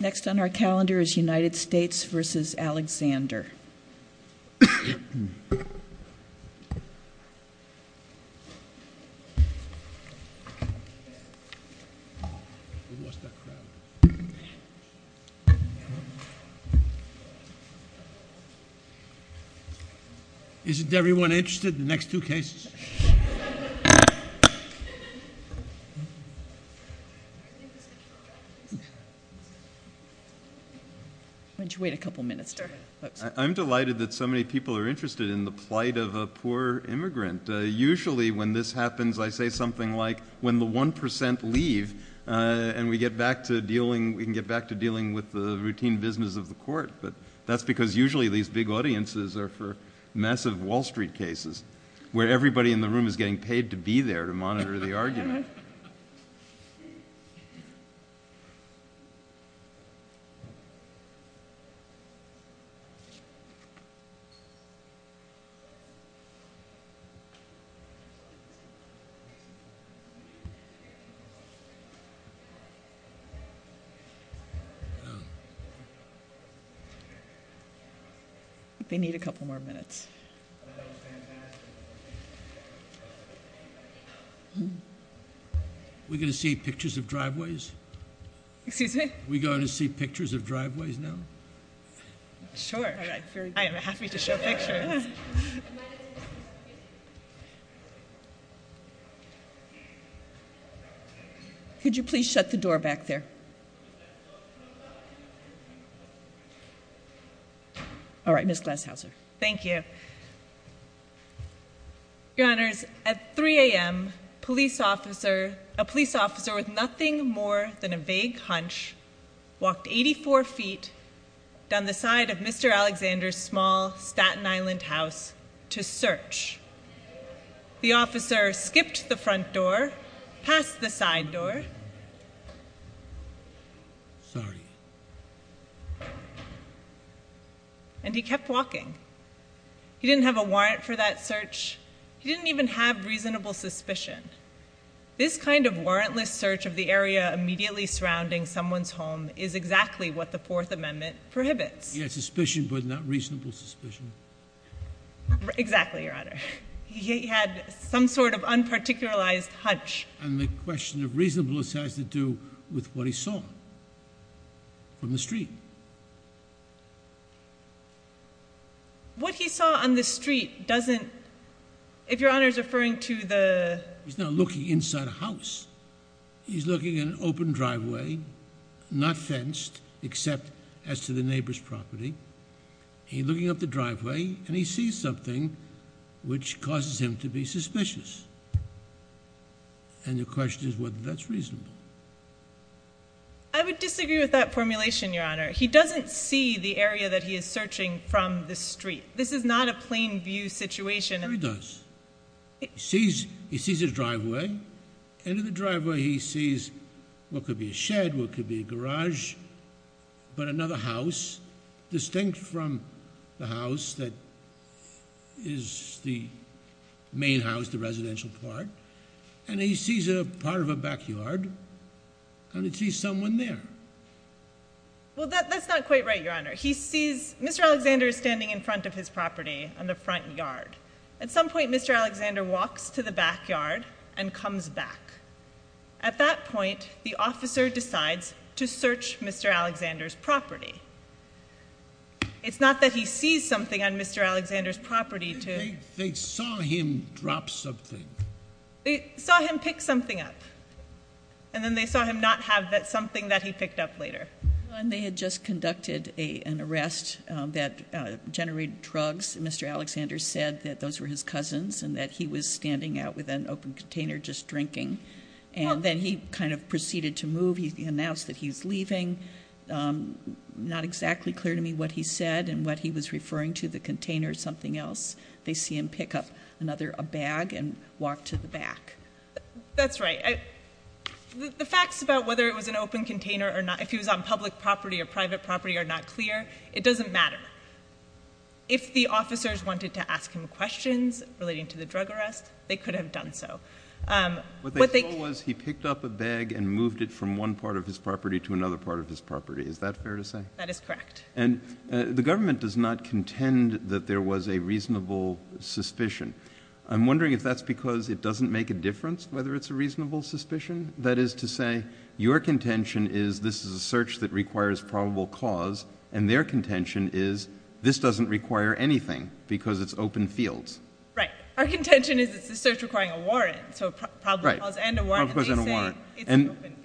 Next on our calendar is U.S. v. Alexander. Isn't everyone interested in the next two cases? Why don't you wait a couple minutes? I'm delighted that so many people are interested in the plight of a poor immigrant. Usually when this happens, I say something like, when the 1% leave and we can get back to dealing with the routine business of the court. But that's because usually these big audiences are for massive Wall Street cases, where everybody in the room is getting paid to be there to monitor the argument. They need a couple more minutes. We're going to see pictures of driveways? Excuse me? Are we going to see pictures of driveways now? Sure. I am happy to show pictures. Could you please shut the door back there? All right, Ms. Glashauser. Thank you. Your Honors, at 3 a.m., a police officer with nothing more than a vague hunch walked 84 feet down the side of Mr. Alexander's small Staten Island house to search. The officer skipped the front door, passed the side door, and he kept walking. He didn't have a warrant for that search. He didn't even have reasonable suspicion. This kind of warrantless search of the area immediately surrounding someone's home is exactly what the Fourth Amendment prohibits. Yes, suspicion, but not reasonable suspicion. Exactly, Your Honor. He had some sort of unparticularized hunch. And the question of reasonableness has to do with what he saw on the street. What he saw on the street doesn't, if Your Honor is referring to the... He's not looking inside a house. He's looking at an open driveway, not fenced, except as to the neighbor's property. He's looking up the driveway, and he sees something which causes him to be suspicious. And the question is whether that's reasonable. I would disagree with that formulation, Your Honor. He doesn't see the area that he is searching from the street. This is not a plain view situation. No, he does. He sees his driveway. And in the driveway, he sees what could be a shed, what could be a garage, but another house distinct from the house that is the main house, the residential part. And he sees a part of a backyard, and he sees someone there. Well, that's not quite right, Your Honor. He sees Mr. Alexander standing in front of his property on the front yard. At some point, Mr. Alexander walks to the backyard and comes back. At that point, the officer decides to search Mr. Alexander's property. It's not that he sees something on Mr. Alexander's property to... They saw him drop something. They saw him pick something up, and then they saw him not have that something that he picked up later. They had just conducted an arrest that generated drugs. Mr. Alexander said that those were his cousins and that he was standing out with an open container just drinking. And then he kind of proceeded to move. He announced that he's leaving. Not exactly clear to me what he said and what he was referring to, the container or something else. They see him pick up another bag and walk to the back. That's right. The facts about whether it was an open container or not, if he was on public property or private property, are not clear. It doesn't matter. If the officers wanted to ask him questions relating to the drug arrest, they could have done so. What they saw was he picked up a bag and moved it from one part of his property to another part of his property. Is that fair to say? That is correct. And the government does not contend that there was a reasonable suspicion. I'm wondering if that's because it doesn't make a difference whether it's a reasonable suspicion. That is to say, your contention is this is a search that requires probable cause, and their contention is this doesn't require anything because it's open fields. Right. Our contention is it's a search requiring a warrant, so probable cause and a warrant.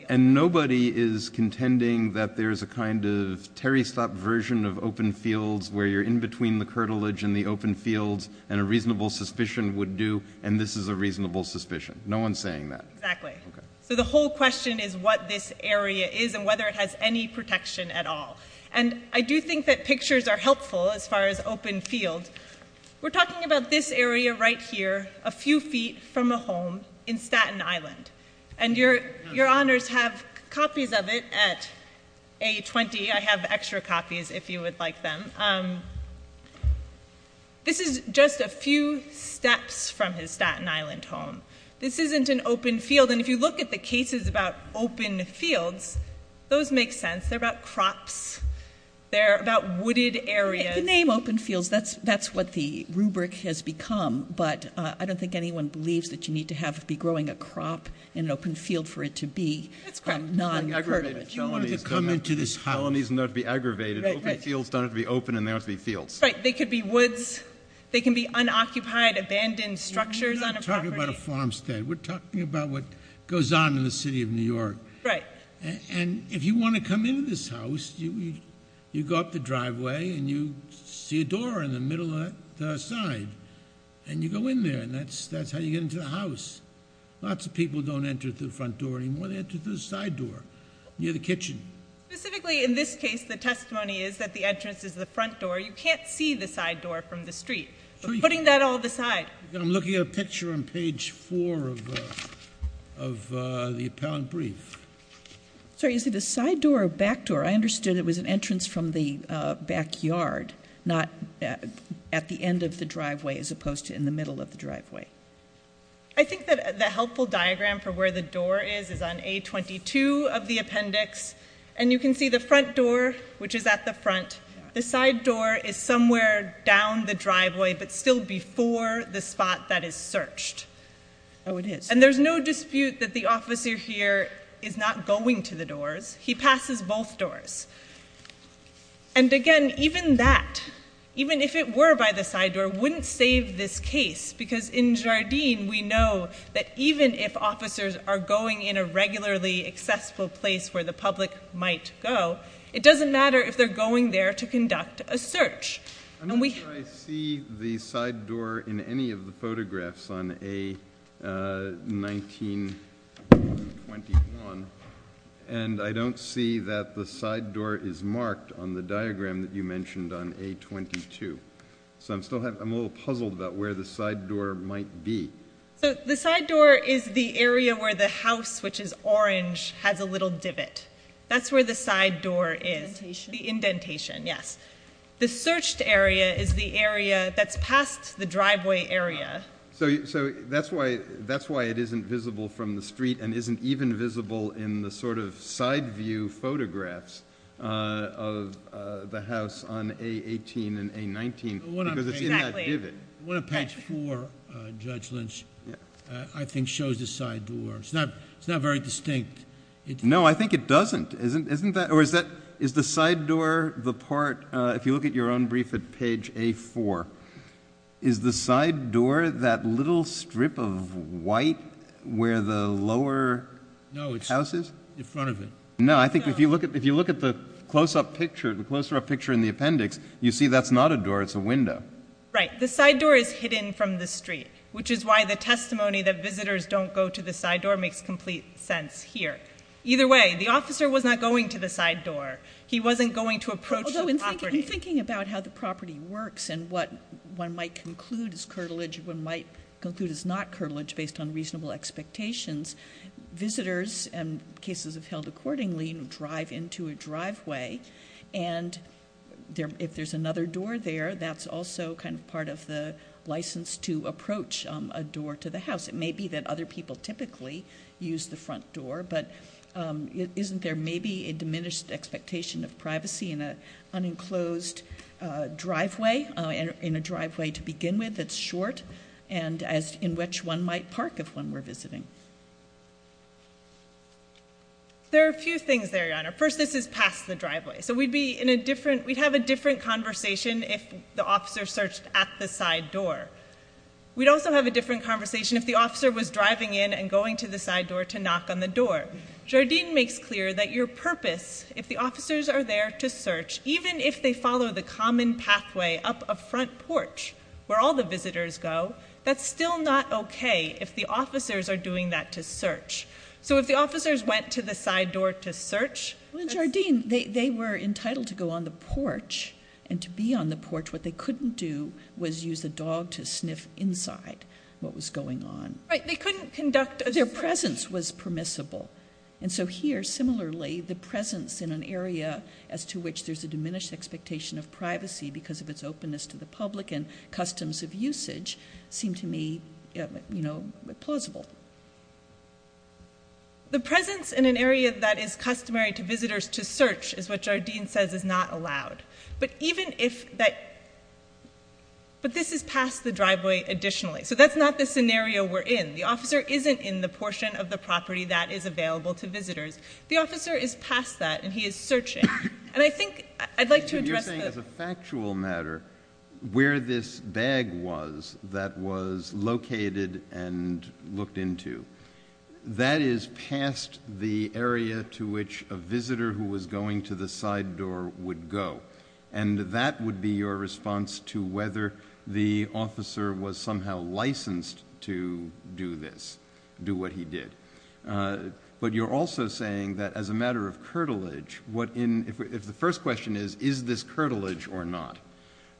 And nobody is contending that there's a kind of Terry Slott version of open fields where you're in between the curtilage and the open fields and a reasonable suspicion would do, and this is a reasonable suspicion. No one's saying that. Exactly. So the whole question is what this area is and whether it has any protection at all. And I do think that pictures are helpful as far as open fields. We're talking about this area right here a few feet from a home in Staten Island, and your honors have copies of it at A20. I have extra copies if you would like them. This is just a few steps from his Staten Island home. This isn't an open field, and if you look at the cases about open fields, those make sense. They're about crops. They're about wooded areas. The name open fields, that's what the rubric has become, but I don't think anyone believes that you need to be growing a crop in an open field for it to be non-curtilage. You don't have to come into this house. Felonies don't have to be aggravated. Open fields don't have to be open and they don't have to be fields. Right. They could be woods. They can be unoccupied, abandoned structures on a property. We're not talking about a farmstead. We're talking about what goes on in the city of New York. Right. And if you want to come into this house, you go up the driveway and you see a door in the middle of the side, and you go in there and that's how you get into the house. Lots of people don't enter through the front door anymore. They enter through the side door near the kitchen. Specifically in this case, the testimony is that the entrance is the front door. You can't see the side door from the street, but putting that all aside. I'm looking at a picture on page 4 of the appellant brief. Sorry, is it a side door or a back door? I understood it was an entrance from the backyard, not at the end of the driveway as opposed to in the middle of the driveway. I think that the helpful diagram for where the door is is on A22 of the appendix, and you can see the front door, which is at the front. The side door is somewhere down the driveway, but still before the spot that is searched. Oh, it is. And there's no dispute that the officer here is not going to the doors. He passes both doors. And again, even that, even if it were by the side door, wouldn't save this case, because in Jardin, we know that even if officers are going in a regularly accessible place where the public might go, it doesn't matter if they're going there to conduct a search. I'm not sure I see the side door in any of the photographs on A1921, and I don't see that the side door is marked on the diagram that you mentioned on A22. So I'm a little puzzled about where the side door might be. The side door is the area where the house, which is orange, has a little divot. That's where the side door is. Indentation. The indentation, yes. The searched area is the area that's past the driveway area. So that's why it isn't visible from the street, and isn't even visible in the sort of side view photographs of the house on A18 and A19, because it's in that divot. Exactly. What a patch 4, Judge Lynch, I think shows the side door. It's not very distinct. No, I think it doesn't. Or is the side door the part, if you look at your own brief at page A4, is the side door that little strip of white where the lower house is? No, it's in front of it. No, I think if you look at the close-up picture in the appendix, you see that's not a door, it's a window. Right. The side door is hidden from the street, which is why the testimony that visitors don't go to the side door makes complete sense here. Either way, the officer was not going to the side door. He wasn't going to approach the property. I'm thinking about how the property works and what one might conclude is curtilage, what one might conclude is not curtilage based on reasonable expectations. Visitors and cases of held accordingly drive into a driveway, and if there's another door there, that's also kind of part of the license to approach a door to the house. It may be that other people typically use the front door, but isn't there maybe a diminished expectation of privacy in an unenclosed driveway, in a driveway to begin with that's short and in which one might park if one were visiting? First, this is past the driveway, so we'd have a different conversation if the officer searched at the side door. We'd also have a different conversation if the officer was driving in and going to the side door to knock on the door. Jardine makes clear that your purpose, if the officers are there to search, even if they follow the common pathway up a front porch where all the visitors go, that's still not okay if the officers are doing that to search. So if the officers went to the side door to search? Well, in Jardine, they were entitled to go on the porch, and to be on the porch. What they couldn't do was use a dog to sniff inside what was going on. Right, they couldn't conduct a search. Their presence was permissible. And so here, similarly, the presence in an area as to which there's a diminished expectation of privacy because of its openness to the public and customs of usage seem to me, you know, plausible. The presence in an area that is customary to visitors to search is what Jardine says is not allowed. But even if that ‑‑ but this is past the driveway additionally. So that's not the scenario we're in. The officer isn't in the portion of the property that is available to visitors. The officer is past that, and he is searching. And I think I'd like to address the ‑‑ But you're saying as a factual matter, where this bag was that was located and looked into, that is past the area to which a visitor who was going to the side door would go. And that would be your response to whether the officer was somehow licensed to do this, do what he did. But you're also saying that as a matter of curtilage, what in ‑‑ if the first question is, is this curtilage or not,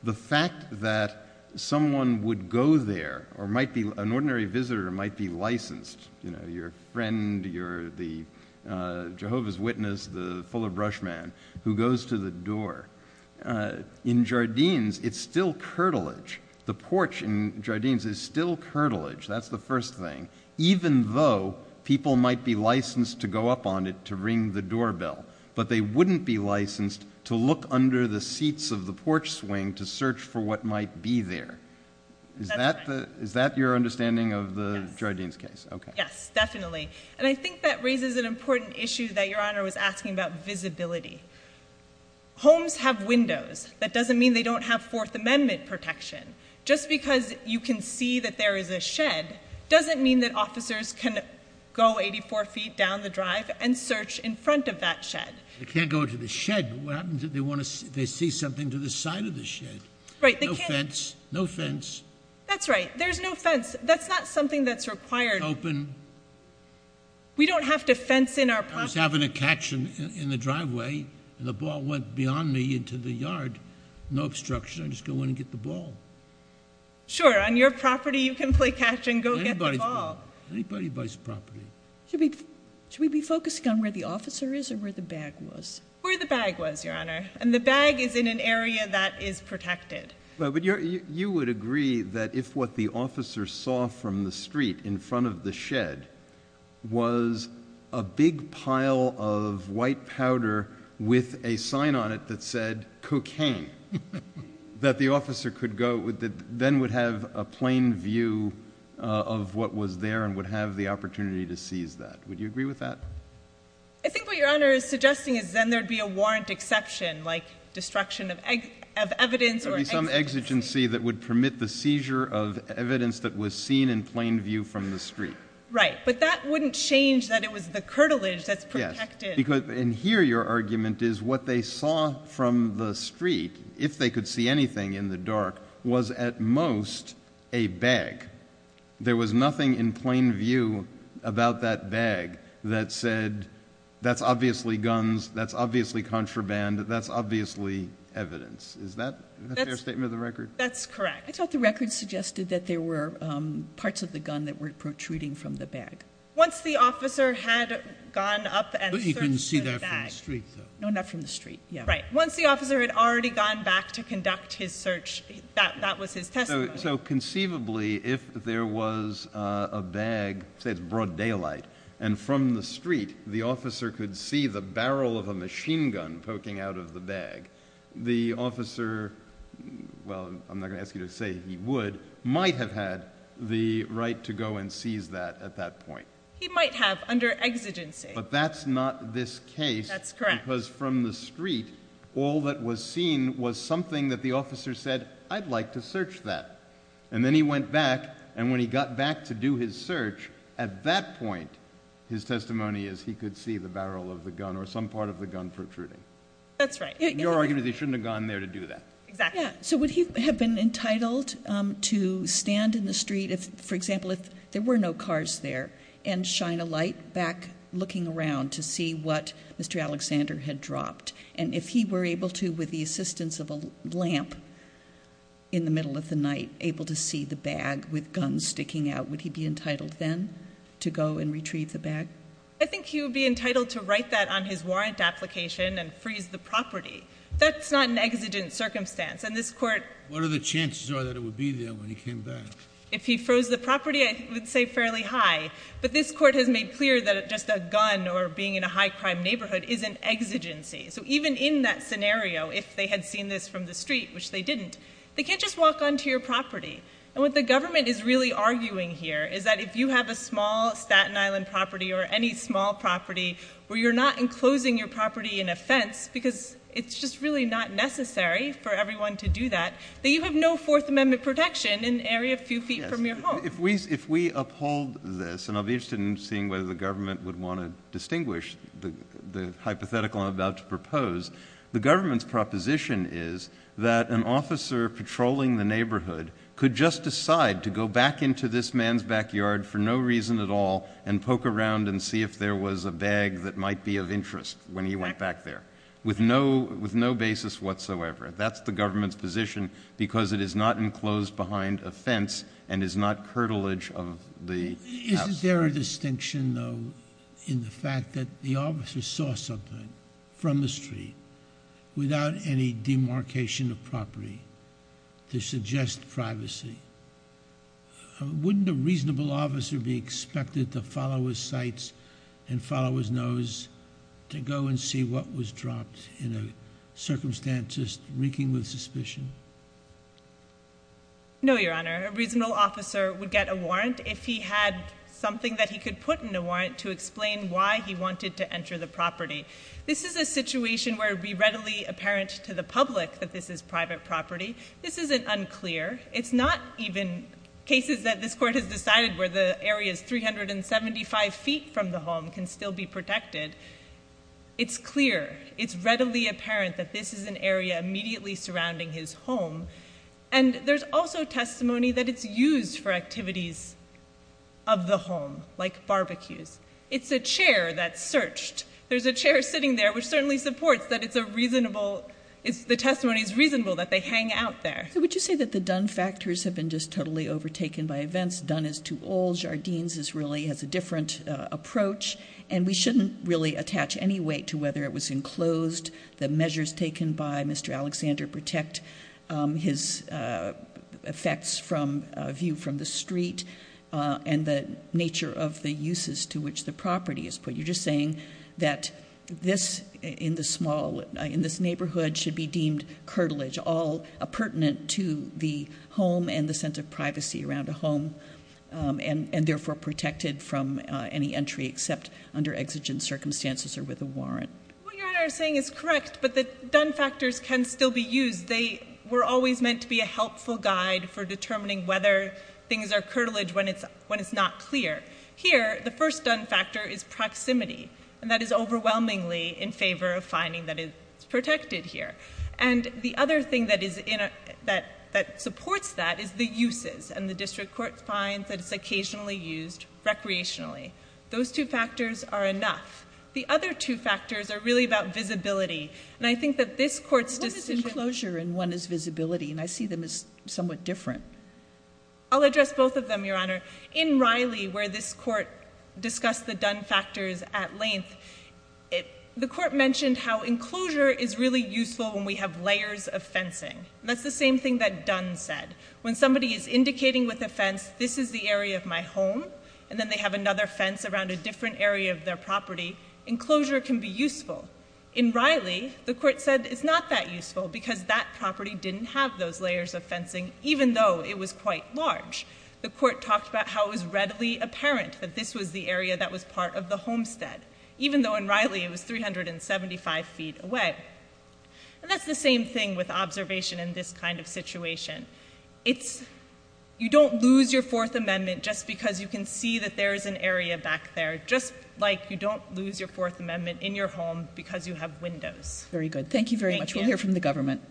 the fact that someone would go there or might be ‑‑ an ordinary visitor might be licensed, you know, your friend, your ‑‑ the Jehovah's Witness, the fuller brush man who goes to the door. In Jardines, it's still curtilage. The porch in Jardines is still curtilage. That's the first thing. Even though people might be licensed to go up on it to ring the doorbell, but they wouldn't be licensed to look under the seats of the porch swing to search for what might be there. That's right. Is that your understanding of the Jardines case? Yes. Okay. Yes, definitely. And I think that raises an important issue that Your Honor was asking about visibility. Homes have windows. That doesn't mean they don't have Fourth Amendment protection. Just because you can see that there is a shed doesn't mean that officers can go 84 feet down the drive and search in front of that shed. They can't go to the shed. What happens if they see something to the side of the shed? Right. No fence. No fence. That's right. There's no fence. That's not something that's required. It's open. We don't have to fence in our property. I was having a catch in the driveway and the ball went beyond me into the yard. No obstruction. I just go in and get the ball. Sure. On your property you can play catch and go get the ball. Anybody buys property. Should we be focusing on where the officer is or where the bag was? Where the bag was, Your Honor. And the bag is in an area that is protected. But you would agree that if what the officer saw from the street in front of the shed was a big pile of white powder with a sign on it that said cocaine, that the officer then would have a plain view of what was there and would have the opportunity to seize that. Would you agree with that? I think what Your Honor is suggesting is then there would be a warrant exception, like destruction of evidence or exigency. Some exigency that would permit the seizure of evidence that was seen in plain view from the street. Right. But that wouldn't change that it was the curtilage that's protected. And here your argument is what they saw from the street, if they could see anything in the dark, was at most a bag. There was nothing in plain view about that bag that said, that's obviously guns, that's obviously contraband, that's obviously evidence. Is that a fair statement of the record? That's correct. I thought the record suggested that there were parts of the gun that were protruding from the bag. Once the officer had gone up and searched the bag. But he couldn't see that from the street, though. No, not from the street. Right. Once the officer had already gone back to conduct his search, that was his testimony. So conceivably, if there was a bag, say it's broad daylight, and from the street the officer could see the barrel of a machine gun poking out of the bag, the officer, well, I'm not going to ask you to say he would, might have had the right to go and seize that at that point. He might have, under exigency. But that's not this case. That's correct. Because from the street, all that was seen was something that the officer said, I'd like to search that. And then he went back, and when he got back to do his search, at that point, his testimony is he could see the barrel of the gun or some part of the gun protruding. That's right. Your argument is he shouldn't have gone there to do that. Exactly. So would he have been entitled to stand in the street, for example, if there were no cars there, and shine a light back looking around to see what Mr. Alexander had dropped? And if he were able to, with the assistance of a lamp in the middle of the night, able to see the bag with guns sticking out, would he be entitled then to go and retrieve the bag? I think he would be entitled to write that on his warrant application and freeze the property. That's not an exigent circumstance. And this court— What are the chances are that it would be there when he came back? If he froze the property, I would say fairly high. But this court has made clear that just a gun or being in a high-crime neighborhood is an exigency. So even in that scenario, if they had seen this from the street, which they didn't, they can't just walk onto your property. And what the government is really arguing here is that if you have a small Staten Island property or any small property where you're not enclosing your property in a fence because it's just really not necessary for everyone to do that, that you have no Fourth Amendment protection in an area a few feet from your home. If we uphold this, and I'll be interested in seeing whether the government would want to distinguish the hypothetical I'm about to propose, the government's proposition is that an officer patrolling the neighborhood could just decide to go back into this man's backyard for no reason at all and poke around and see if there was a bag that might be of interest when he went back there with no basis whatsoever. That's the government's position because it is not enclosed behind a fence and is not curtilage of the house. Is there a distinction, though, in the fact that the officer saw something from the street without any demarcation of property to suggest privacy? Wouldn't a reasonable officer be expected to follow his sights and follow his nose to go and see what was dropped in a circumstance reeking with suspicion? No, Your Honor. A reasonable officer would get a warrant if he had something that he could put in a warrant to explain why he wanted to enter the property. This is a situation where it would be readily apparent to the public that this is private property. This isn't unclear. It's not even cases that this Court has decided where the area is 375 feet from the home can still be protected. It's clear. It's readily apparent that this is an area immediately surrounding his home. And there's also testimony that it's used for activities of the home, like barbecues. It's a chair that's searched. There's a chair sitting there, which certainly supports that the testimony is reasonable, that they hang out there. So would you say that the done factors have been just totally overtaken by events? Done is too old. Jardines really has a different approach. And we shouldn't really attach any weight to whether it was enclosed, the measures taken by Mr. Alexander protect his effects from a view from the street, and the nature of the uses to which the property is put. You're just saying that this, in this neighborhood, should be deemed curtilage, all pertinent to the home and the sense of privacy around a home, and therefore protected from any entry except under exigent circumstances or with a warrant. What you're saying is correct, but the done factors can still be used. They were always meant to be a helpful guide for determining whether things are curtilage when it's not clear. Here, the first done factor is proximity, and that is overwhelmingly in favor of finding that it's protected here. And the other thing that supports that is the uses, and the district court finds that it's occasionally used recreationally. Those two factors are enough. The other two factors are really about visibility. And I think that this court's decision- What is enclosure and what is visibility? And I see them as somewhat different. I'll address both of them, Your Honor. In Riley, where this court discussed the done factors at length, the court mentioned how enclosure is really useful when we have layers of fencing. And that's the same thing that Dunn said. When somebody is indicating with a fence, this is the area of my home, and then they have another fence around a different area of their property, enclosure can be useful. In Riley, the court said it's not that useful because that property didn't have those layers of fencing, even though it was quite large. The court talked about how it was readily apparent that this was the area that was part of the homestead, even though in Riley it was 375 feet away. And that's the same thing with observation in this kind of situation. You don't lose your Fourth Amendment just because you can see that there is an area back there, just like you don't lose your Fourth Amendment in your home because you have windows. Very good. Thank you very much. Thank you. We'll hear from the government.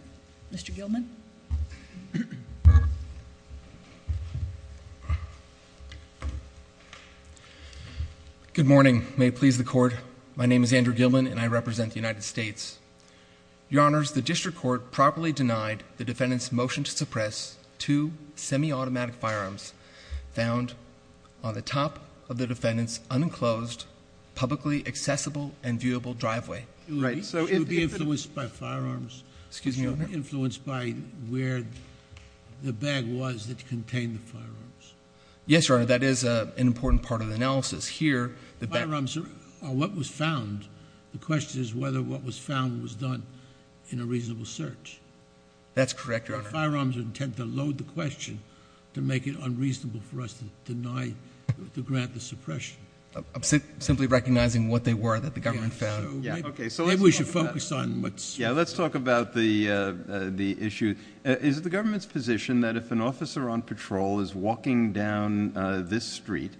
Mr. Gilman. Good morning. May it please the Court. My name is Andrew Gilman, and I represent the United States. Your Honors, the district court properly denied the defendant's motion to suppress two semi-automatic firearms found on the top of the defendant's unenclosed, publicly accessible, and viewable driveway. So it would be influenced by firearms? Excuse me, Your Honor. Influenced by where the bag was that contained the firearms? Yes, Your Honor. That is an important part of the analysis. Firearms are what was found. The question is whether what was found was done in a reasonable search. That's correct, Your Honor. Firearms are intent to load the question to make it unreasonable for us to grant the suppression. Simply recognizing what they were that the government found. Maybe we should focus on what's true. Yeah, let's talk about the issue. Is it the government's position that if an officer on patrol is walking down this street,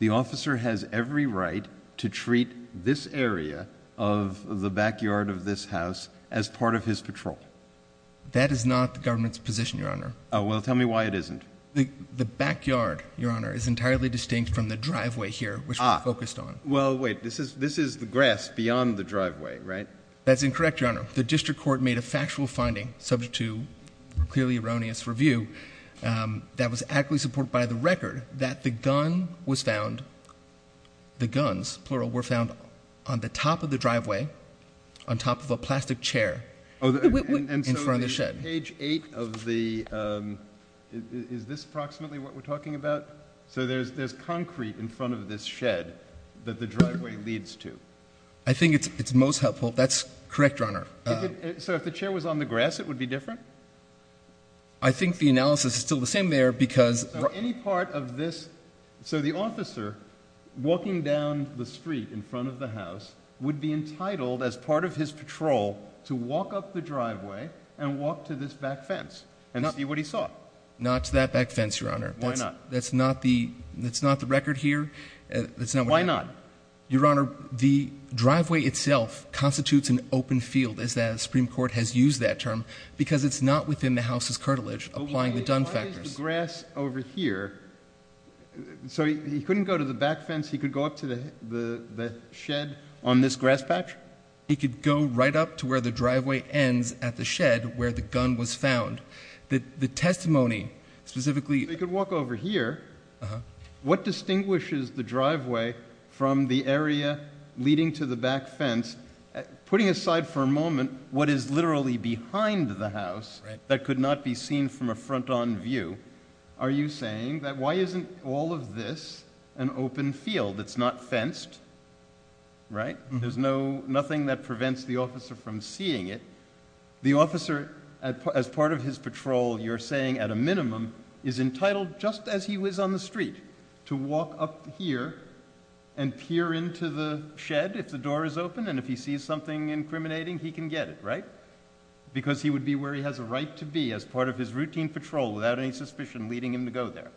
the officer has every right to treat this area of the backyard of this house as part of his patrol? That is not the government's position, Your Honor. Well, tell me why it isn't. The backyard, Your Honor, is entirely distinct from the driveway here, which we're focused on. Well, wait. This is the grass beyond the driveway, right? That's incorrect, Your Honor. The district court made a factual finding, subject to clearly erroneous review, that was adequately supported by the record, that the gun was found, the guns, plural, were found on the top of the driveway, on top of a plastic chair, in front of the shed. Page 8 of the, is this approximately what we're talking about? So there's concrete in front of this shed that the driveway leads to. I think it's most helpful. That's correct, Your Honor. So if the chair was on the grass, it would be different? I think the analysis is still the same there because... So any part of this, so the officer walking down the street in front of the house would be entitled, as part of his patrol, to walk up the driveway and walk to this back fence and see what he saw? Not to that back fence, Your Honor. Why not? That's not the record here. Why not? Your Honor, the driveway itself constitutes an open field, as the Supreme Court has used that term, because it's not within the house's curtilage, applying the Dunn factors. Why is the grass over here? So he couldn't go to the back fence. He could go up to the shed on this grass patch? He could go right up to where the driveway ends at the shed where the gun was found. The testimony specifically... So he could walk over here. What distinguishes the driveway from the area leading to the back fence? Putting aside for a moment what is literally behind the house that could not be seen from a front-on view, are you saying that why isn't all of this an open field? It's not fenced, right? There's nothing that prevents the officer from seeing it. The officer, as part of his patrol, you're saying at a minimum, is entitled, just as he was on the street, to walk up here and peer into the shed if the door is open, and if he sees something incriminating, he can get it, right? Because he would be where he has a right to be as part of his routine patrol without any suspicion leading him to go there.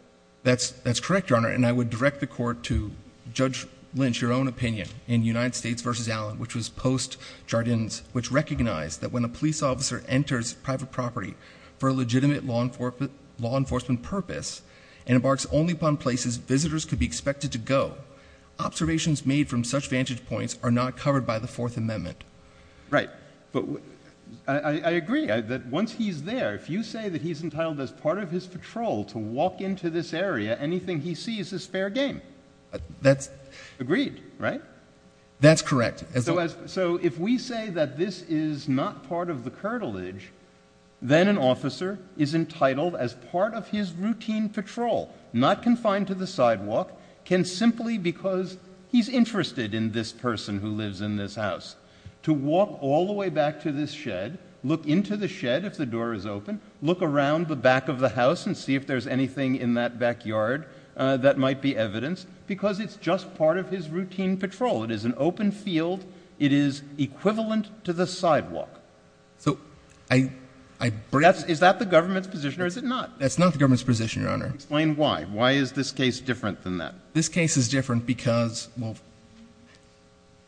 That's correct, Your Honor, and I would direct the Court to Judge Lynch, your own opinion, in United States v. Allen, which was post-Jardins, which recognized that when a police officer enters private property for a legitimate law enforcement purpose and embarks only upon places visitors could be expected to go, observations made from such vantage points are not covered by the Fourth Amendment. Right, but I agree that once he's there, if you say that he's entitled as part of his patrol to walk into this area, anything he sees is fair game. Agreed, right? That's correct. So if we say that this is not part of the cartilage, then an officer is entitled as part of his routine patrol, not confined to the sidewalk, can simply, because he's interested in this person who lives in this house, to walk all the way back to this shed, look into the shed if the door is open, look around the back of the house and see if there's anything in that backyard that might be evidence, because it's just part of his routine patrol. It is an open field. It is equivalent to the sidewalk. Is that the government's position or is it not? That's not the government's position, Your Honor. Explain why. Why is this case different than that? This case is different because, well,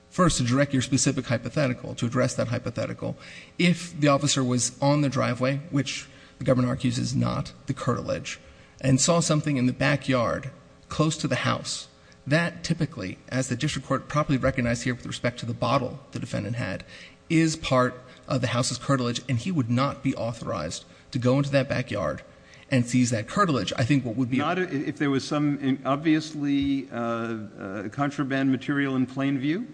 first to direct your specific hypothetical, to address that hypothetical, if the officer was on the driveway, which the government argues is not the cartilage, and saw something in the backyard close to the house, that typically, as the district court properly recognized here with respect to the bottle the defendant had, is part of the house's cartilage, and he would not be authorized to go into that backyard and seize that cartilage. I think what would be... Not if there was some obviously contraband material in plain view?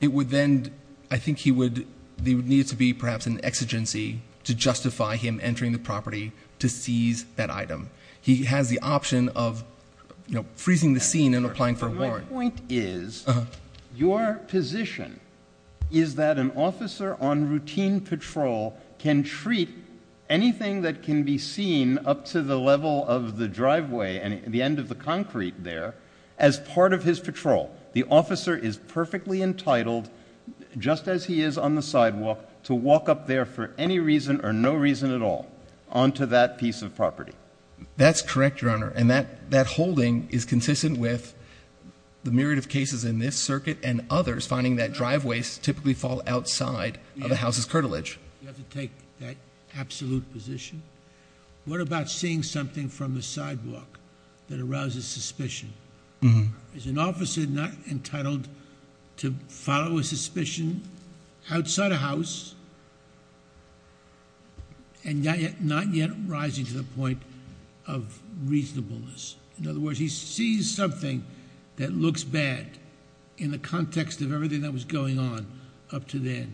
It would then, I think he would, there would need to be perhaps an exigency to justify him entering the property to seize that item. He has the option of freezing the scene and applying for a warrant. My point is, your position is that an officer on routine patrol can treat anything that can be seen up to the level of the driveway and the end of the concrete there as part of his patrol. The officer is perfectly entitled, just as he is on the sidewalk, to walk up there for any reason or no reason at all onto that piece of property. That's correct, Your Honor, and that holding is consistent with the myriad of cases in this circuit and others finding that driveways typically fall outside of the house's cartilage. You have to take that absolute position. What about seeing something from the sidewalk that arouses suspicion? Is an officer not entitled to follow a suspicion outside a house and not yet rising to the point of reasonableness? In other words, he sees something that looks bad in the context of everything that was going on up to then.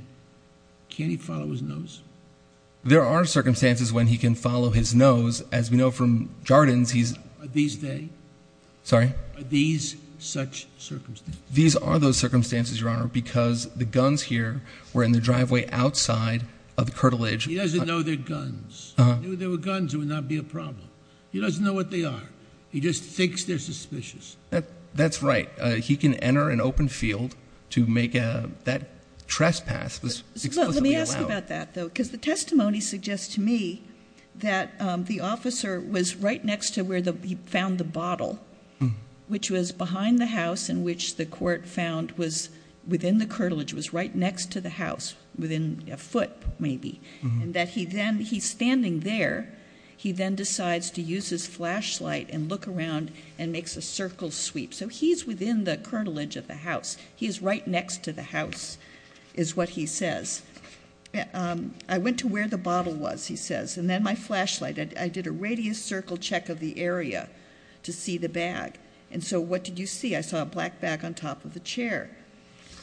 Can't he follow his nose? There are circumstances when he can follow his nose. As we know from Jardins, he's... Are these they? Sorry? Are these such circumstances? These are those circumstances, Your Honor, because the guns here were in the driveway outside of the cartilage. He doesn't know they're guns. If they were guns, it would not be a problem. He doesn't know what they are. He just thinks they're suspicious. That's right. He can enter an open field to make that trespass. Let me ask you about that, though, because the testimony suggests to me that the officer was right next to where he found the bottle, which was behind the house and which the court found was within the cartilage, was right next to the house, within a foot maybe, and that he's standing there. He then decides to use his flashlight and look around and makes a circle sweep. So he's within the cartilage of the house. He is right next to the house is what he says. I went to where the bottle was, he says, and then my flashlight. I did a radius circle check of the area to see the bag. And so what did you see? I saw a black bag on top of the chair.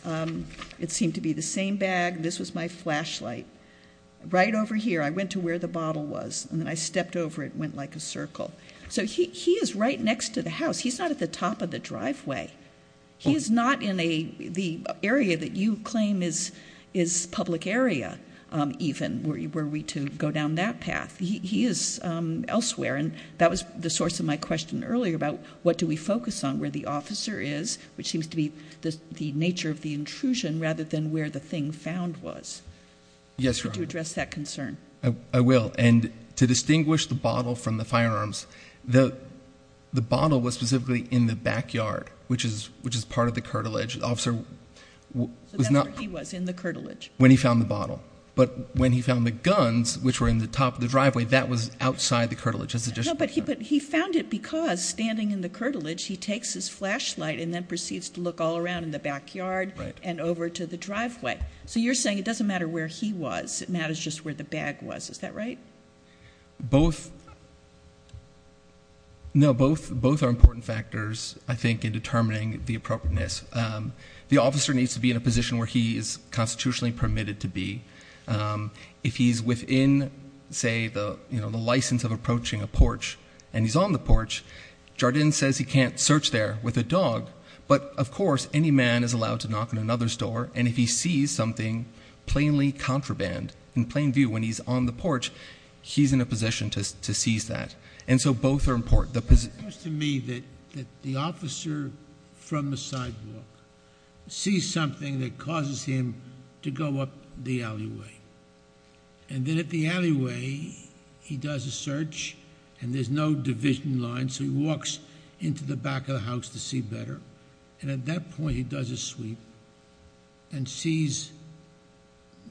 It seemed to be the same bag. This was my flashlight. Right over here, I went to where the bottle was, and then I stepped over it and went like a circle. So he is right next to the house. He's not at the top of the driveway. He is not in the area that you claim is public area, even, were we to go down that path. He is elsewhere, and that was the source of my question earlier about what do we focus on, where the officer is, which seems to be the nature of the intrusion, rather than where the thing found was. Yes, Your Honor. Could you address that concern? I will. To distinguish the bottle from the firearms, the bottle was specifically in the backyard, which is part of the curtilage. So that's where he was, in the curtilage? When he found the bottle. But when he found the guns, which were in the top of the driveway, that was outside the curtilage. But he found it because, standing in the curtilage, he takes his flashlight and then proceeds to look all around in the backyard and over to the driveway. So you're saying it doesn't matter where he was. It matters just where the bag was. Is that right? Both are important factors, I think, in determining the appropriateness. The officer needs to be in a position where he is constitutionally permitted to be. If he's within, say, the license of approaching a porch and he's on the porch, Jardin says he can't search there with a dog. But, of course, any man is allowed to knock on another store, and if he sees something plainly contraband, in plain view, when he's on the porch, he's in a position to seize that. And so both are important. It occurs to me that the officer from the sidewalk sees something that causes him to go up the alleyway. And then at the alleyway, he does a search, and there's no division line, so he walks into the back of the house to see better. And at that point, he does a sweep and sees,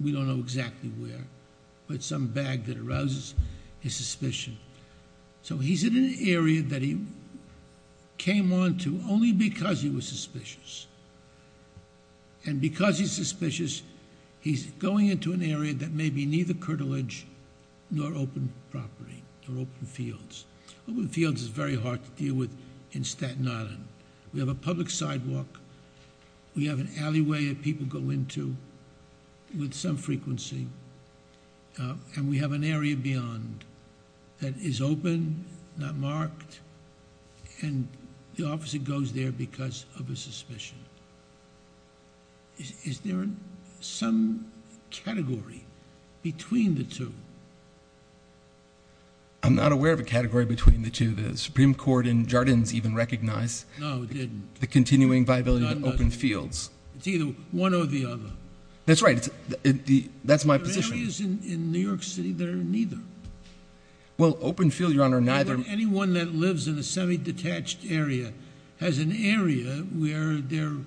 we don't know exactly where, but some bag that arouses his suspicion. So he's in an area that he came onto only because he was suspicious. And because he's suspicious, he's going into an area that may be neither curtilage nor open property or open fields. Open fields is very hard to deal with in Staten Island. We have a public sidewalk. We have an alleyway that people go into with some frequency. And we have an area beyond that is open, not marked, and the officer goes there because of a suspicion. Is there some category between the two? I'm not aware of a category between the two. The Supreme Court in Jardins even recognized the continuing viability of open fields. It's either one or the other. That's right. That's my position. There are areas in New York City that are neither. Well, open field, Your Honor, neither. Anyone that lives in a semi-detached area has an area where there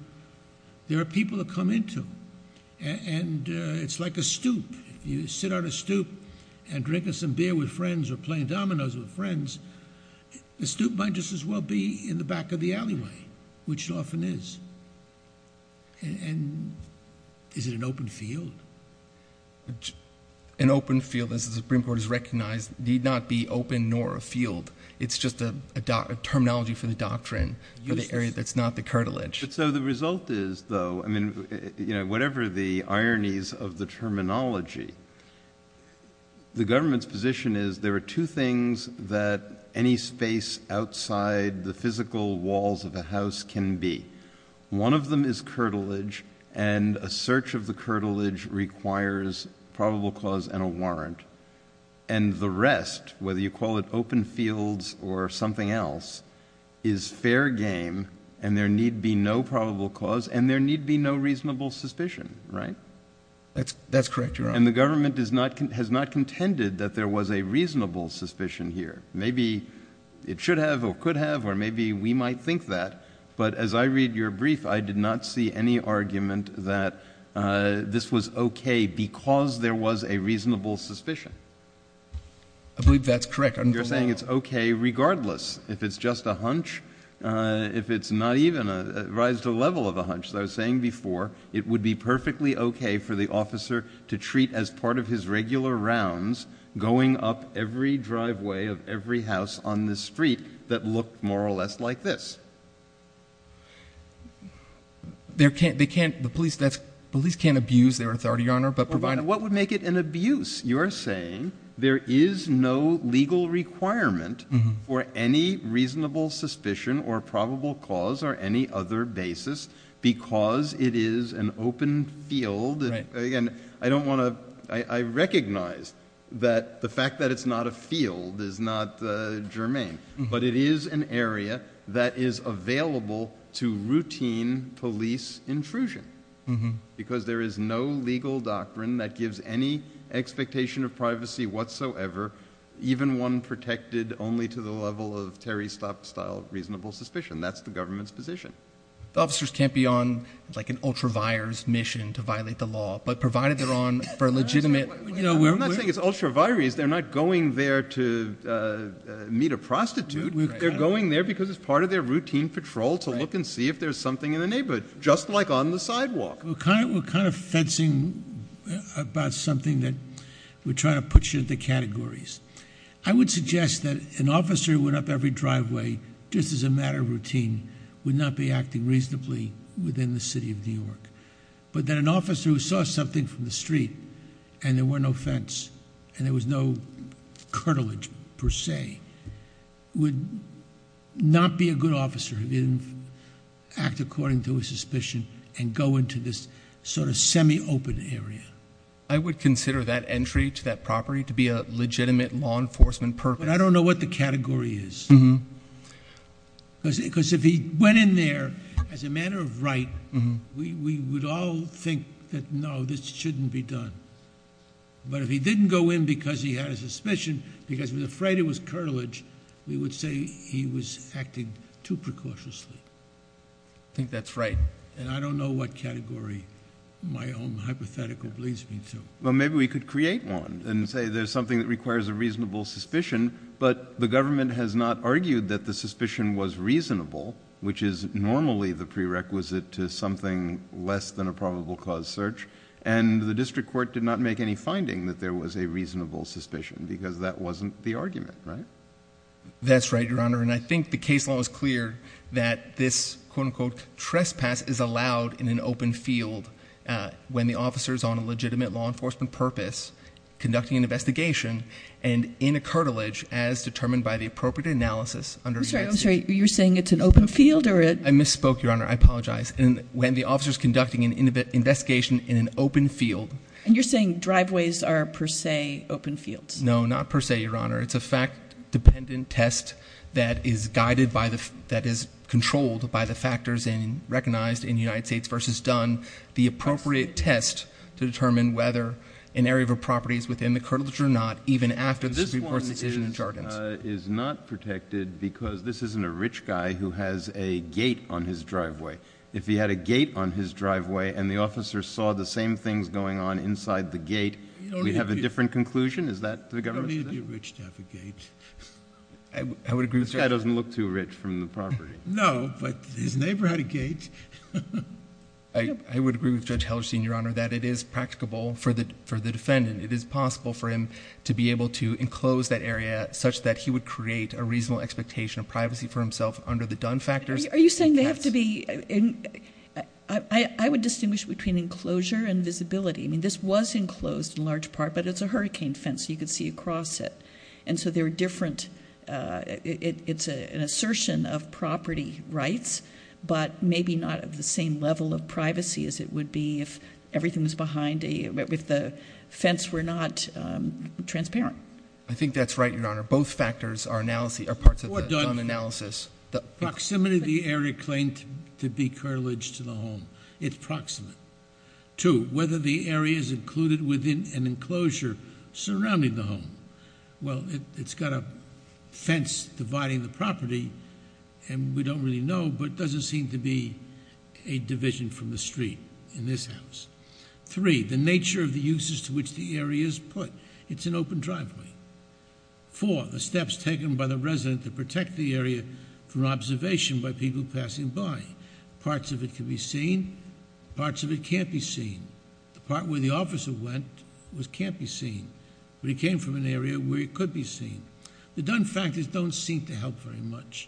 are people that come into. And it's like a stoop. You sit on a stoop and drink some beer with friends or play dominoes with friends. The stoop might just as well be in the back of the alleyway, which it often is. And is it an open field? An open field, as the Supreme Court has recognized, need not be open nor a field. It's just a terminology for the doctrine for the area that's not the curtilage. So the result is, though, I mean, you know, whatever the ironies of the terminology, the government's position is there are two things that any space outside the physical walls of a house can be. One of them is curtilage, and a search of the curtilage requires probable cause and a warrant. And the rest, whether you call it open fields or something else, is fair game, and there need be no probable cause and there need be no reasonable suspicion, right? That's correct, Your Honor. And the government has not contended that there was a reasonable suspicion here. Maybe it should have or could have or maybe we might think that. But as I read your brief, I did not see any argument that this was okay because there was a reasonable suspicion. I believe that's correct. You're saying it's okay regardless. If it's just a hunch, if it's not even a rise to the level of a hunch, as I was saying before, it would be perfectly okay for the officer to treat as part of his regular rounds, going up every driveway of every house on the street that looked more or less like this. The police can't abuse their authority, Your Honor. What would make it an abuse? You're saying there is no legal requirement for any reasonable suspicion or probable cause or any other basis because it is an open field. I recognize that the fact that it's not a field is not germane, but it is an area that is available to routine police intrusion because there is no legal doctrine that gives any expectation of privacy whatsoever, even one protected only to the level of Terry Stott-style reasonable suspicion. That's the government's position. The officers can't be on like an ultra-vires mission to violate the law, but provided they're on for a legitimate— I'm not saying it's ultra-vires. They're not going there to meet a prostitute. They're going there because it's part of their routine patrol to look and see if there's something in the neighborhood, just like on the sidewalk. We're kind of fencing about something that we're trying to put you into categories. I would suggest that an officer who went up every driveway just as a matter of routine would not be acting reasonably within the city of New York, but that an officer who saw something from the street and there were no fence and there was no cartilage per se would not be a good officer if he didn't act according to his suspicion and go into this sort of semi-open area. I would consider that entry to that property to be a legitimate law enforcement purpose. But I don't know what the category is. Because if he went in there as a matter of right, we would all think that, no, this shouldn't be done. But if he didn't go in because he had a suspicion, because he was afraid it was cartilage, we would say he was acting too precautiously. I think that's right. And I don't know what category my own hypothetical believes me to. Well, maybe we could create one and say there's something that requires a reasonable suspicion, but the government has not argued that the suspicion was reasonable, which is normally the prerequisite to something less than a probable cause search, and the district court did not make any finding that there was a reasonable suspicion because that wasn't the argument, right? That's right, Your Honor. And I think the case law is clear that this, quote-unquote, trespass is allowed in an open field when the officer is on a legitimate law enforcement purpose, conducting an investigation, and in a cartilage as determined by the appropriate analysis under- I'm sorry. I'm sorry. You're saying it's an open field or a- I misspoke, Your Honor. I apologize. When the officer is conducting an investigation in an open field- And you're saying driveways are per se open fields? No, not per se, Your Honor. It's a fact-dependent test that is guided by the- that is controlled by the factors and recognized in United States v. Dunn, the appropriate test to determine whether an area of a property is within the cartilage or not, even after the district court's decision in Jardins. This one is not protected because this isn't a rich guy who has a gate on his driveway. If he had a gate on his driveway and the officer saw the same things going on inside the gate, Is that the government's- He doesn't need to be rich to have a gate. I would agree with Judge- This guy doesn't look too rich from the property. No, but his neighbor had a gate. I would agree with Judge Hellerstein, Your Honor, that it is practicable for the defendant. It is possible for him to be able to enclose that area such that he would create a reasonable expectation of privacy for himself under the Dunn factors. Are you saying they have to be- I would distinguish between enclosure and visibility. I mean, this was enclosed in large part, but it's a hurricane fence. You could see across it. And so they're different. It's an assertion of property rights, but maybe not of the same level of privacy as it would be if everything was behind a- if the fence were not transparent. I think that's right, Your Honor. Both factors are parts of the Dunn analysis. Proximity of the area claimed to be cartilage to the home. It's proximate. Two, whether the area is included within an enclosure surrounding the home. Well, it's got a fence dividing the property, and we don't really know, but it doesn't seem to be a division from the street in this house. Three, the nature of the uses to which the area is put. It's an open driveway. Four, the steps taken by the resident to protect the area from observation by people passing by. Parts of it can be seen. Parts of it can't be seen. The part where the officer went can't be seen, but he came from an area where he could be seen. The Dunn factors don't seem to help very much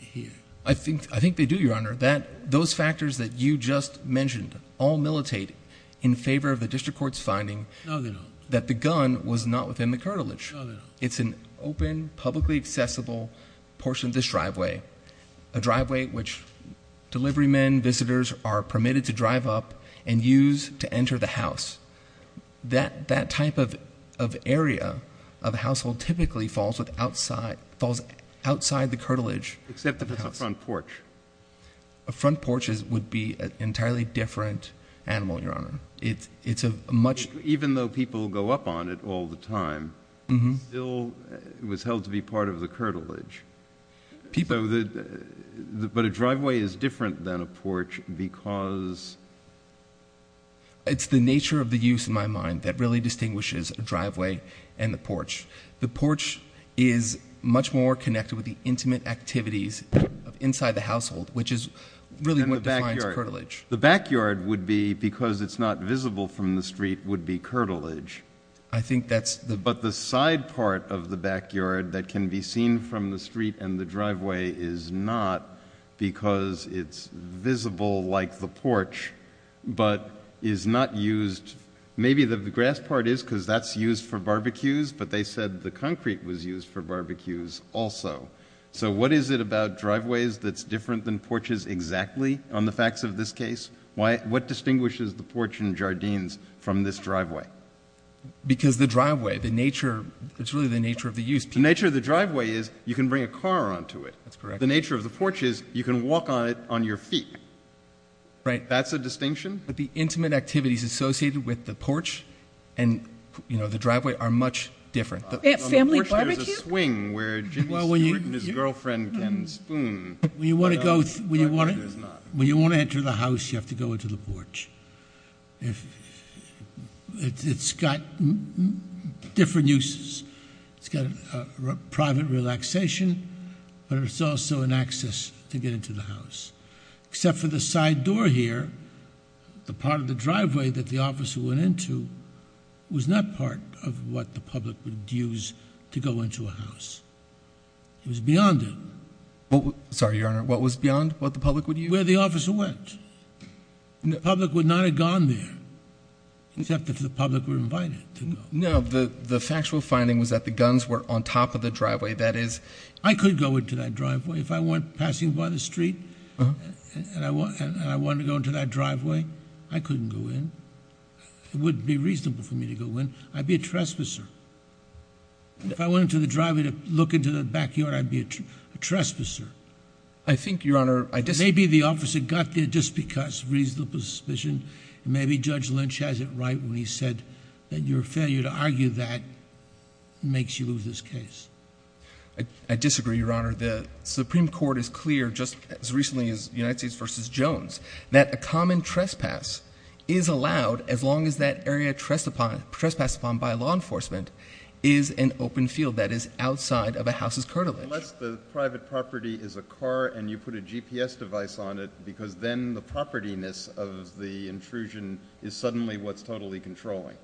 here. I think they do, Your Honor. Those factors that you just mentioned all militate in favor of the district court's finding that the gun was not within the cartilage. It's an open, publicly accessible portion of this driveway, a driveway which delivery men, visitors are permitted to drive up and use to enter the house. That type of area of a household typically falls outside the cartilage. Except if it's a front porch. A front porch would be an entirely different animal, Your Honor. Even though people go up on it all the time, it still was held to be part of the cartilage. But a driveway is different than a porch because... It's the nature of the use in my mind that really distinguishes a driveway and a porch. The porch is much more connected with the intimate activities inside the household, which is really what defines cartilage. The backyard would be, because it's not visible from the street, would be cartilage. I think that's the... And the driveway is not because it's visible like the porch, but is not used... Maybe the grass part is because that's used for barbecues, but they said the concrete was used for barbecues also. So what is it about driveways that's different than porches exactly on the facts of this case? What distinguishes the porch and jardines from this driveway? Because the driveway, the nature, it's really the nature of the use. The nature of the driveway is you can bring a car onto it. The nature of the porch is you can walk on it on your feet. That's a distinction? The intimate activities associated with the porch and the driveway are much different. On the porch there's a swing where Jimmy Stewart and his girlfriend can spoon. When you want to enter the house, you have to go into the porch. It's got different uses. It's got a private relaxation, but it's also an access to get into the house. Except for the side door here, the part of the driveway that the officer went into was not part of what the public would use to go into a house. It was beyond it. Sorry, Your Honor, what was beyond what the public would use? Where the officer went. And the public would not have gone there, except if the public were invited to go. No, the factual finding was that the guns were on top of the driveway. I could go into that driveway. If I went passing by the street and I wanted to go into that driveway, I couldn't go in. It wouldn't be reasonable for me to go in. I'd be a trespasser. If I went into the driveway to look into the backyard, I'd be a trespasser. I think, Your Honor, I disagree. Maybe the officer got there just because of reasonable suspicion. Maybe Judge Lynch has it right when he said that your failure to argue that makes you lose this case. I disagree, Your Honor. The Supreme Court is clear, just as recently as United States v. Jones, that a common trespass is allowed as long as that area trespassed upon by law enforcement is an open field that is outside of a house's curtilage. Unless the private property is a car and you put a GPS device on it, because then the propertiness of the intrusion is suddenly what's totally controlling.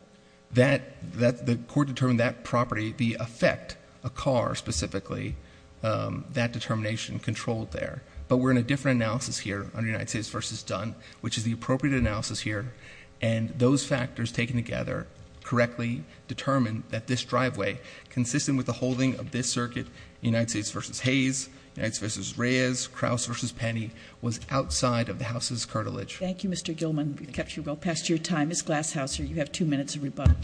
The court determined that property, the effect, a car specifically, that determination controlled there. But we're in a different analysis here under United States v. Dunn, which is the appropriate analysis here. And those factors taken together correctly determine that this driveway, consistent with the holding of this circuit, United States v. Hayes, United States v. Reyes, Krauss v. Penny, was outside of the house's curtilage. Thank you, Mr. Gilman. We've kept you well past your time. Ms. Glashouser, you have two minutes of rebuttal.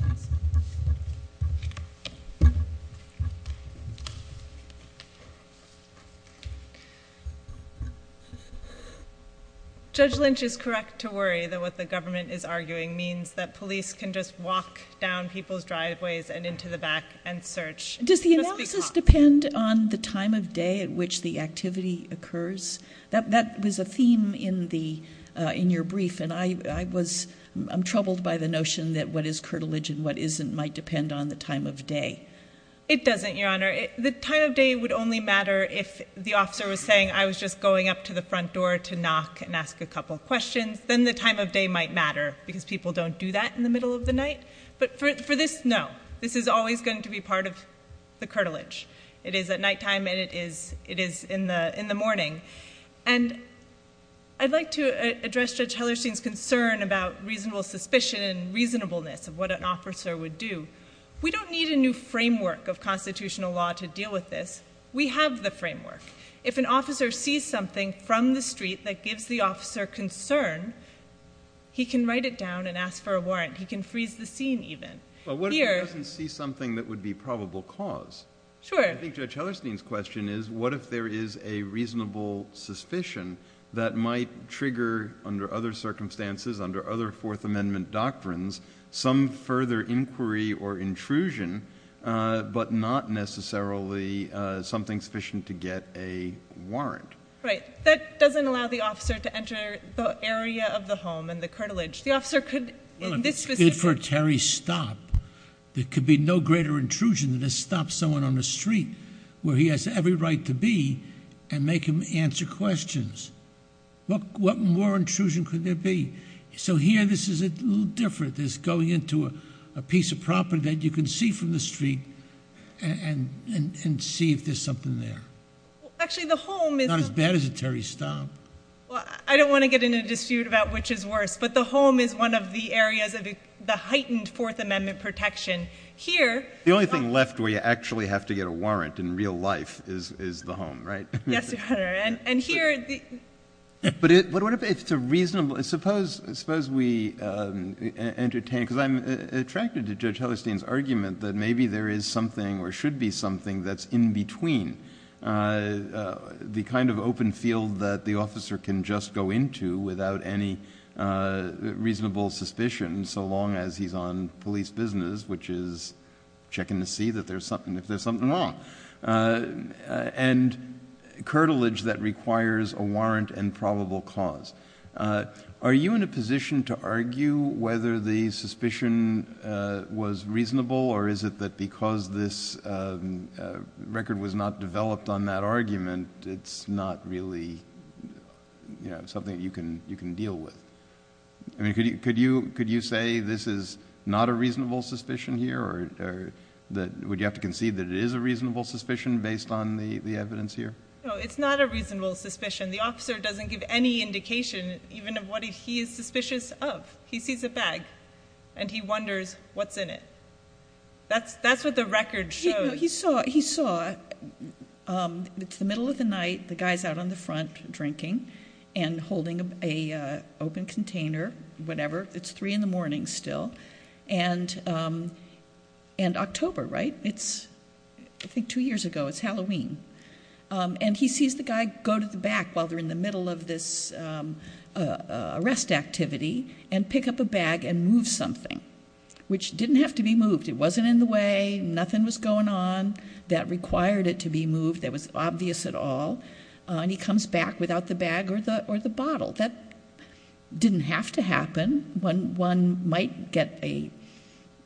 Judge Lynch is correct to worry that what the government is arguing means that police can just walk down people's driveways and into the back and search. Does the analysis depend on the time of day at which the activity occurs? That was a theme in your brief, and I'm troubled by the notion that what is curtilage and what isn't might depend on the time of day. It doesn't, Your Honor. The time of day would only matter if the officer was saying, I was just going up to the front door to knock and ask a couple questions. Then the time of day might matter, because people don't do that in the middle of the night. But for this, no. This is always going to be part of the curtilage. It is at nighttime, and it is in the morning. And I'd like to address Judge Hellerstein's concern about reasonable suspicion and reasonableness of what an officer would do. We don't need a new framework of constitutional law to deal with this. We have the framework. If an officer sees something from the street that gives the officer concern, he can write it down and ask for a warrant. He can freeze the scene, even. But what if he doesn't see something that would be probable cause? Sure. I think Judge Hellerstein's question is, what if there is a reasonable suspicion that might trigger, under other circumstances, under other Fourth Amendment doctrines, some further inquiry or intrusion, but not necessarily something sufficient to get a warrant? Right. That doesn't allow the officer to enter the area of the home and the curtilage. The officer could, in this specific case. Good for a Terry stop. There could be no greater intrusion than to stop someone on the street where he has every right to be and make him answer questions. What more intrusion could there be? So here, this is a little different. This is going into a piece of property that you can see from the street and see if there's something there. Actually, the home is. Not as bad as a Terry stop. I don't want to get into a dispute about which is worse. But the home is one of the areas of the heightened Fourth Amendment protection. Here. The only thing left where you actually have to get a warrant in real life is the home, right? Yes, Your Honor. And here. But what if it's a reasonable. Suppose we entertain, because I'm attracted to Judge Hellerstein's argument that maybe there is something or should be something that's in between. The kind of open field that the officer can just go into without any reasonable suspicion. So long as he's on police business, which is checking to see that there's something if there's something wrong. And curtilage that requires a warrant and probable cause. Are you in a position to argue whether the suspicion was reasonable? Or is it that because this record was not developed on that argument, it's not really something you can deal with? I mean, could you say this is not a reasonable suspicion here? Or would you have to concede that it is a reasonable suspicion based on the evidence here? No, it's not a reasonable suspicion. The officer doesn't give any indication even of what he is suspicious of. He sees a bag and he wonders what's in it. That's what the record shows. He saw, it's the middle of the night. The guy's out on the front drinking and holding an open container, whatever. It's 3 in the morning still. And October, right? It's, I think, two years ago. It's Halloween. And he sees the guy go to the back while they're in the middle of this arrest activity and pick up a bag and move something. Which didn't have to be moved. It wasn't in the way. Nothing was going on that required it to be moved that was obvious at all. And he comes back without the bag or the bottle. That didn't have to happen. One might get a,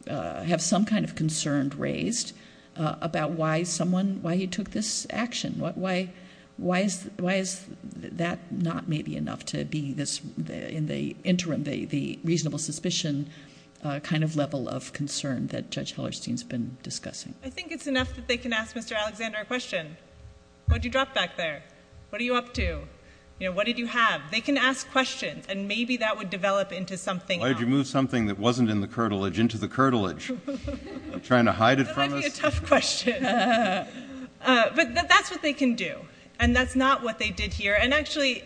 have some kind of concern raised about why someone, why he took this action. Why is that not maybe enough to be this, in the interim, the reasonable suspicion kind of level of concern that Judge Hellerstein's been discussing? I think it's enough that they can ask Mr. Alexander a question. What did you drop back there? What are you up to? What did you have? They can ask questions. And maybe that would develop into something else. Why did you move something that wasn't in the curtilage into the curtilage? Trying to hide it from us? That might be a tough question. But that's what they can do. And that's not what they did here. And actually,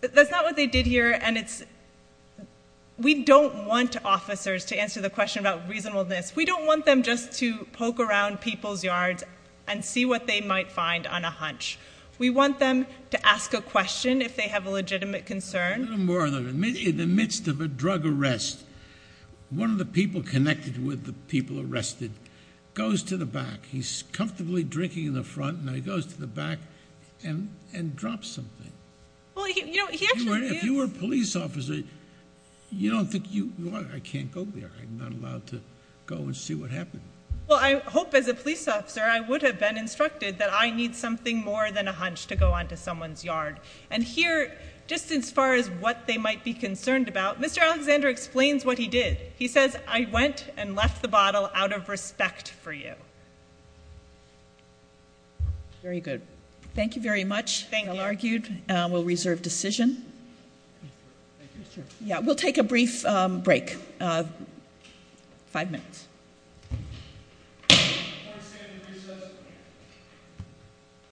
that's not what they did here. And it's, we don't want officers to answer the question about reasonableness. We don't want them just to poke around people's yards and see what they might find on a hunch. We want them to ask a question if they have a legitimate concern. A little more than that. In the midst of a drug arrest, one of the people connected with the people arrested goes to the back. He's comfortably drinking in the front. Now he goes to the back and drops something. Well, you know, he actually is. If you were a police officer, you don't think you, well, I can't go there. I'm not allowed to go and see what happened. Well, I hope as a police officer I would have been instructed that I need something more than a hunch to go onto someone's yard. And here, just as far as what they might be concerned about, Mr. Alexander explains what he did. He says, I went and left the bottle out of respect for you. Very good. Thank you very much. Thank you. We'll reserve decision. We'll take a brief break. Five minutes.